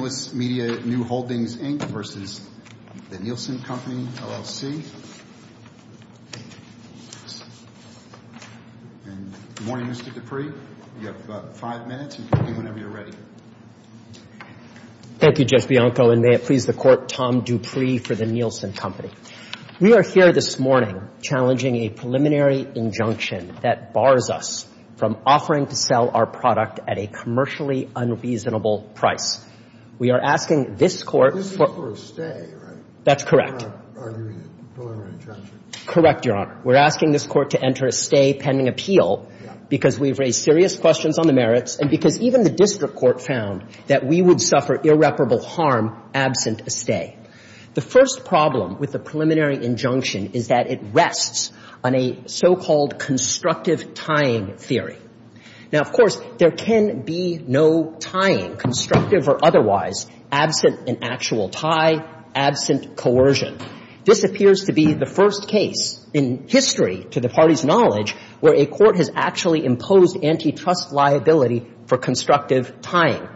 Good morning, Mr. Dupree. You have about five minutes. You can begin whenever you're ready. Thank you, Judge Bianco, and may it please the Court, Tom Dupree for The Nielsen Company. We are here this morning challenging a preliminary injunction that bars us from offering to sell our product at a commercially unreasonable price. We are asking this Court for This is for a stay, right? That's correct. We're not arguing a preliminary injunction. Correct, Your Honor. We're asking this Court to enter a stay pending appeal because we've raised serious questions on the merits and because even the district court found that we would suffer irreparable harm absent a stay. The first problem with the preliminary injunction is that it rests on a so-called constructive tying theory. Now, of course, there can be no tying, constructive or otherwise, absent an actual tie, absent coercion. This appears to be the first case in history, to the Party's knowledge, where a court has actually imposed antitrust liability for constructive tying.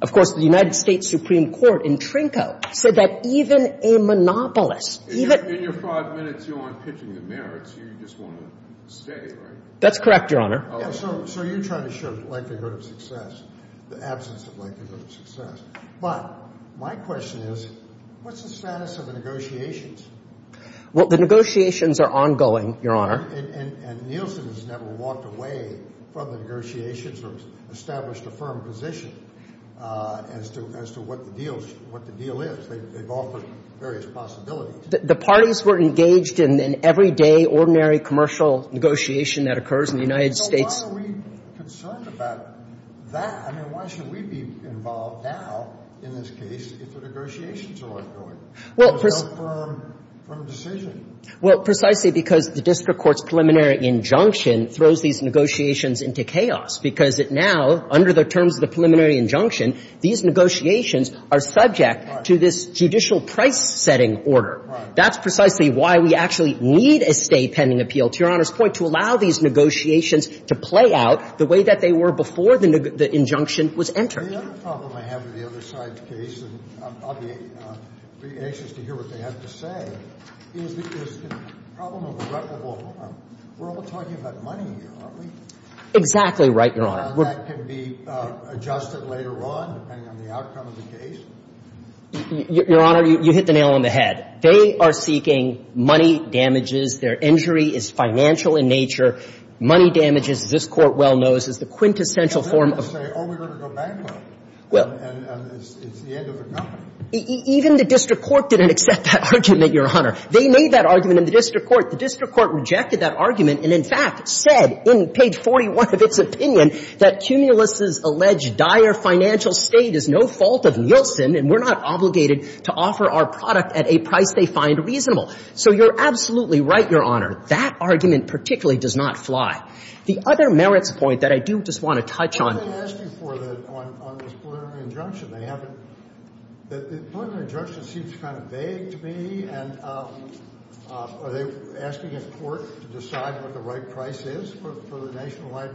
Of course, the United States Supreme Court in Trinco said that even a monopolist In your five minutes, you aren't pitching the merits. You just want a stay, right? That's correct, Your Honor. So you're trying to show likelihood of success, the absence of likelihood of success. But my question is, what's the status of the negotiations? Well, the negotiations are ongoing, Your Honor. And Nielsen has never walked away from the negotiations or established a firm position as to what the deal is. They've offered various possibilities. The parties were engaged in an everyday, ordinary commercial negotiation that occurs in the United States. So why are we concerned about that? I mean, why should we be involved now in this case if the negotiations are ongoing? Well, precisely because the district court's preliminary injunction throws these negotiations into chaos, because it now, under the terms of the preliminary injunction, these negotiations are subject to this judicial price-setting order. That's precisely why we actually need a stay pending appeal, to Your Honor's discretion, to allow these negotiations to play out the way that they were before the injunction was entered. The other problem I have with the other side's case, and I'll be anxious to hear what they have to say, is the problem of irreparable harm. We're all talking about money here, aren't we? Exactly right, Your Honor. That can be adjusted later on, depending on the outcome of the case? Your Honor, you hit the nail on the head. They are seeking money damages. Their injury is financial in nature. Money damages, this Court well knows, is the quintessential form of the ---- Well, then they say, oh, we're going to go bankrupt, and it's the end of the company. Even the district court didn't accept that argument, Your Honor. They made that argument in the district court. The district court rejected that argument and, in fact, said in page 41 of its opinion that Cumulus's alleged dire financial state is no fault of Nielsen, and we're not obligated to offer our product at a price they find reasonable. So you're absolutely right, Your Honor. That argument particularly does not fly. The other merits point that I do just want to touch on ---- Why are they asking for the ---- on this preliminary injunction? They haven't ---- the preliminary injunction seems kind of vague to me, and are they asking a court to decide what the right price is for the nationwide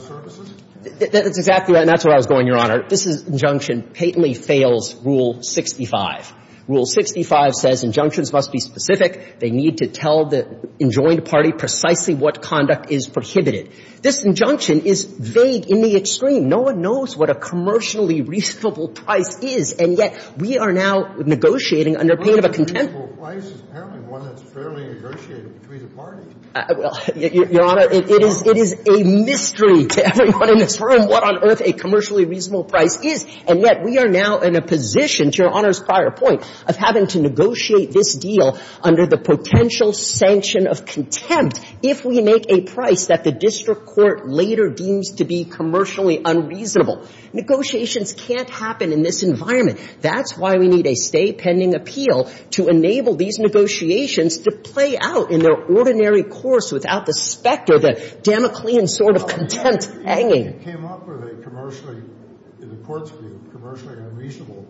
services? That's exactly right, and that's where I was going, Your Honor. This injunction patently fails Rule 65. Rule 65 says injunctions must be specific. They need to tell the enjoined party precisely what conduct is prohibited. This injunction is vague in the extreme. No one knows what a commercially reasonable price is, and yet we are now negotiating under pain of a contempt ---- Well, a commercially reasonable price is apparently one that's fairly negotiated between the parties. Well, Your Honor, it is a mystery to everyone in this room what on earth a commercially reasonable price is, and yet we are now in a position, to Your Honor's prior point, of having to negotiate this deal under the potential sanction of contempt if we make a price that the district court later deems to be commercially unreasonable. Negotiations can't happen in this environment. That's why we need a stay pending appeal to enable these negotiations to play out in their ordinary course without the specter, the Damoclean sort of contempt hanging. If you came up with a commercially ---- the court's view, commercially unreasonable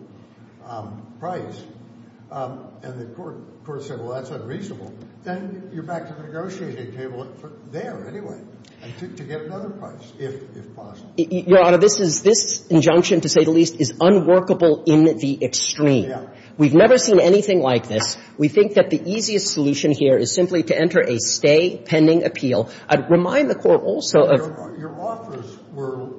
price, and the court said, well, that's unreasonable, then you're back to negotiating table there anyway to get another price, if possible. Your Honor, this is ---- this injunction, to say the least, is unworkable in the extreme. We've never seen anything like this. We think that the easiest solution here is simply to enter a stay pending appeal. I'd remind the Court also of ---- Your offers were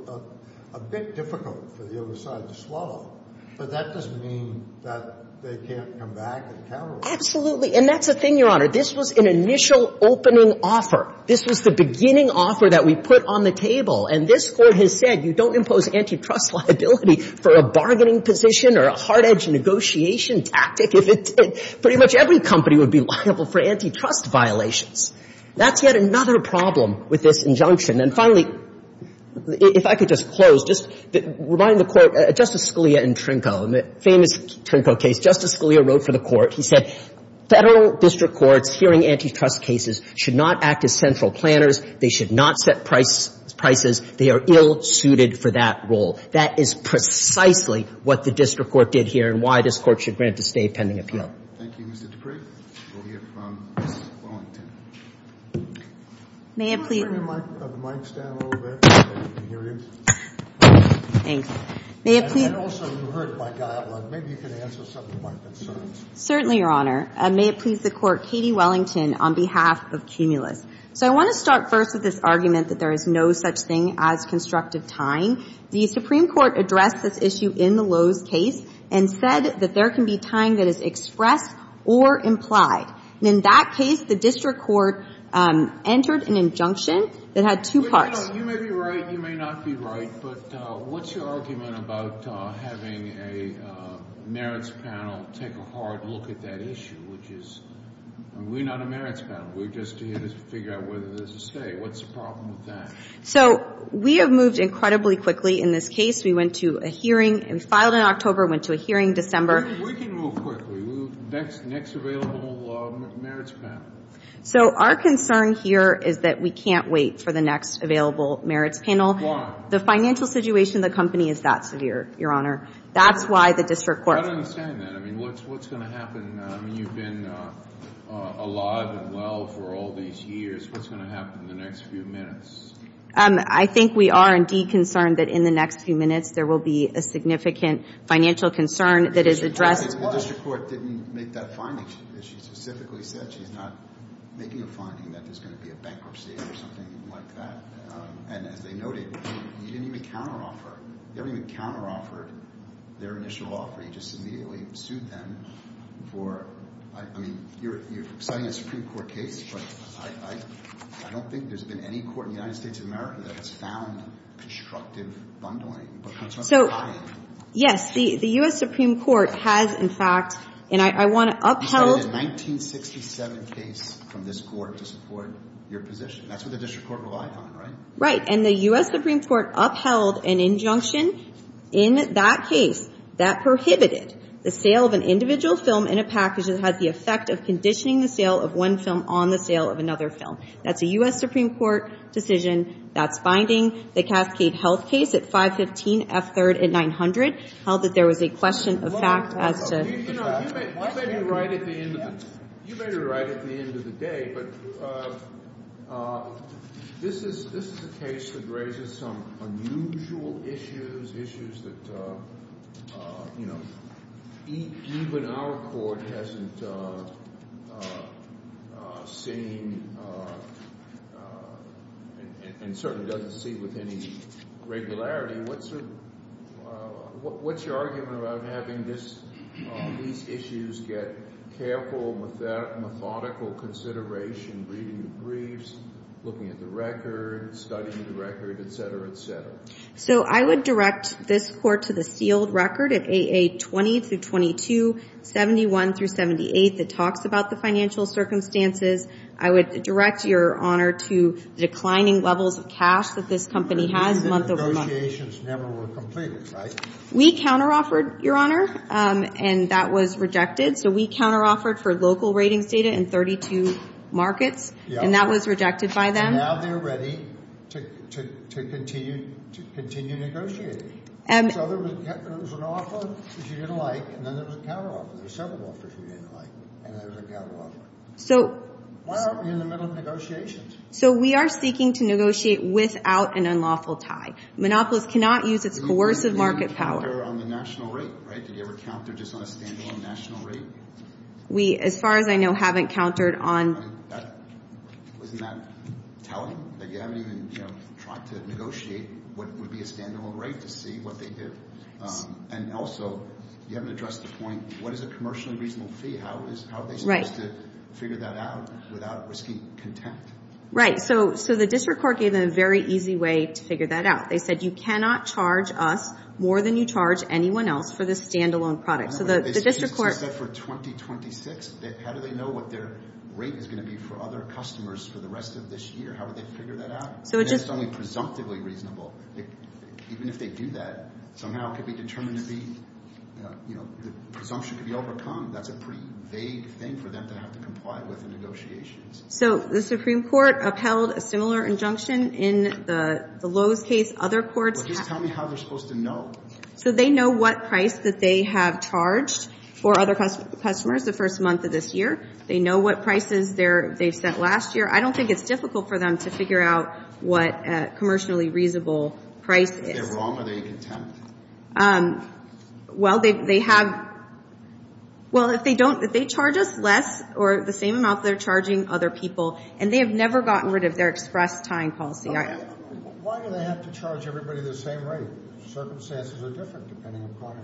a bit difficult for the other side to swallow, but that doesn't mean that they can't come back and counter it. Absolutely. And that's the thing, Your Honor. This was an initial opening offer. This was the beginning offer that we put on the table. And this Court has said, you don't impose antitrust liability for a bargaining position or a hard-edged negotiation tactic if it did. Pretty much every company would be liable for antitrust violations. That's yet another problem with this injunction. And finally, if I could just close, just remind the Court, Justice Scalia and Trinco, the famous Trinco case, Justice Scalia wrote for the Court. He said, Federal district courts hearing antitrust cases should not act as central planners, they should not set prices, they are ill-suited for that role. That is precisely what the district court did here and why this Court should grant a stay pending appeal. Thank you, Mr. Dupree. We'll hear from Ms. Wallington. May it please the Court, Katie Wellington, on behalf of Cumulus. So I want to start first with this argument that there is no such thing as constructive time. The Supreme Court addressed this issue in the Lowe's case and said that there can be time that is expressed or implied. In that case, the district court entered an injunction that had two parts. You may be right, you may not be right, but what's your argument about having a merits panel take a hard look at that issue, which is, we're not a merits panel, we're just here to figure out whether there's a stay. What's the problem with that? So we have moved incredibly quickly in this case. We went to a hearing, we filed in October, went to a hearing in December. We can move quickly. Next available merits panel. So our concern here is that we can't wait for the next available merits panel. Why? The financial situation of the company is that severe, Your Honor. That's why the district court- I don't understand that. I mean, what's going to happen now? I mean, you've been alive and well for all these years. What's going to happen in the next few minutes? I think we are indeed concerned that in the next few minutes, there will be a significant financial concern that is addressed- The district court didn't make that finding. She specifically said she's not making a finding that there's going to be a bankruptcy or something like that. And as they noted, you didn't even counteroffer. You haven't even counteroffered their initial offer. You just immediately sued them for- I mean, you're citing a Supreme Court case, but I don't think there's been any court in the United States of America that has found constructive bundling. So, yes, the U.S. Supreme Court has, in fact, and I want to upheld- You cited a 1967 case from this court to support your position. That's what the district court relied on, right? Right. And the U.S. Supreme Court upheld an injunction in that case that prohibited the sale of an individual film in a package that had the effect of conditioning the sale of one film on the sale of another film. That's a U.S. Supreme Court decision. That's binding. The Cascade Health case at 515 F3rd and 900 held that there was a question of fact as to- You know, you may be right at the end of the day, but this is a case that raises some unusual issues, issues that, you know, even our court hasn't seen and certainly doesn't see with any regularity. What's your argument about having these issues get careful, methodical consideration, reading the briefs, looking at the records, studying the record, et cetera, et cetera? So, I would direct this court to the sealed record at AA 20 through 22, 71 through 78 that talks about the financial circumstances. I would direct your honor to declining levels of cash that this company has month over month. Negotiations never were completed, right? We counter-offered, your honor, and that was rejected. So, we counter-offered for local ratings data in 32 markets, and that was rejected by them. So, now they're ready to continue negotiating. So, there was an offer that you didn't like, and then there was a counter-offer. There were several offers you didn't like, and then there was a counter-offer. So- Why aren't we in the middle of negotiations? So, we are seeking to negotiate without an unlawful tie. Monopolis cannot use its coercive market power. Did you ever give a counter on the national rate, right? We, as far as I know, haven't countered on- Wasn't that telling? That you haven't even, you know, tried to negotiate what would be a stand-alone rate to see what they did? And also, you haven't addressed the point, what is a commercially reasonable fee? How are they supposed to figure that out without risking contempt? Right. So, the district court gave them a very easy way to figure that out. They said, you cannot charge us more than you charge anyone else for this stand-alone product. So, the district court- They said for 2026, how do they know what their rate is going to be for other customers for the rest of this year? How would they figure that out? So, it just- It's only presumptively reasonable. Even if they do that, somehow it could be determined to be, you know, the presumption could be overcome. That's a pretty vague thing for them to have to comply with in negotiations. So, the Supreme Court upheld a similar injunction in the Lowe's case. Other courts- Well, just tell me how they're supposed to know. So, they know what price that they have charged for other customers the first month of this year. They know what prices they've sent last year. I don't think it's difficult for them to figure out what commercially reasonable price is. If they're wrong, are they contempt? Well, they have- Well, if they don't- if they charge us less or the same amount they're charging other people, and they have never gotten rid of their express time policy. Why do they have to charge everybody the same rate? Circumstances are different depending upon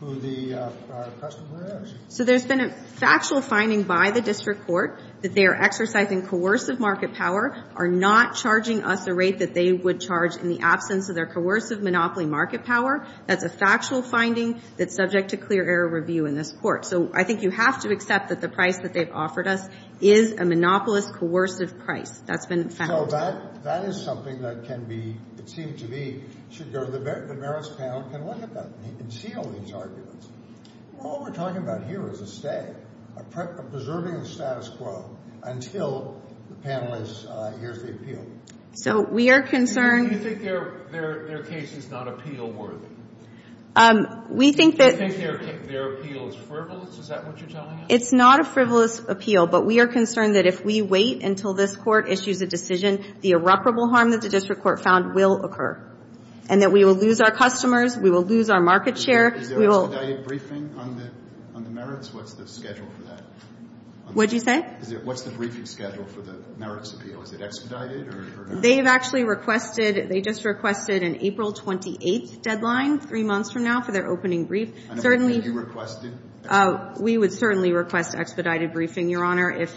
who the customer is. So, there's been a factual finding by the district court that they are exercising coercive market power, are not charging us a rate that they would charge in the absence of their coercive monopoly market power. That's a factual finding that's subject to clear error review in this court. So, I think you have to accept that the price that they've offered us is a monopolist coercive price. That's been found. So, that is something that can be, it seems to be, should go to the Barrett's panel and can look at that. You can see all these arguments. All we're talking about here is a stay, preserving the status quo until the panelist hears the appeal. So, we are concerned- Do you think their case is not appeal worthy? We think that- Do you think their appeal is frivolous? Is that what you're telling us? It's not a frivolous appeal. But we are concerned that if we wait until this court issues a decision, the irreparable harm that the district court found will occur. And that we will lose our customers, we will lose our market share, we will- Is there an expedited briefing on the Merits? What's the schedule for that? What did you say? What's the briefing schedule for the Merits appeal? Is it expedited or- They have actually requested, they just requested an April 28th deadline, three months from now, for their opening brief. Certainly- And have you requested expedited? We would certainly request expedited briefing, Your Honor. And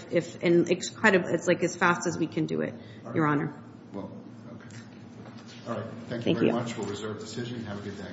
it's as fast as we can do it, Your Honor. Well, okay. All right. Thank you very much. We'll reserve the decision. Have a good day.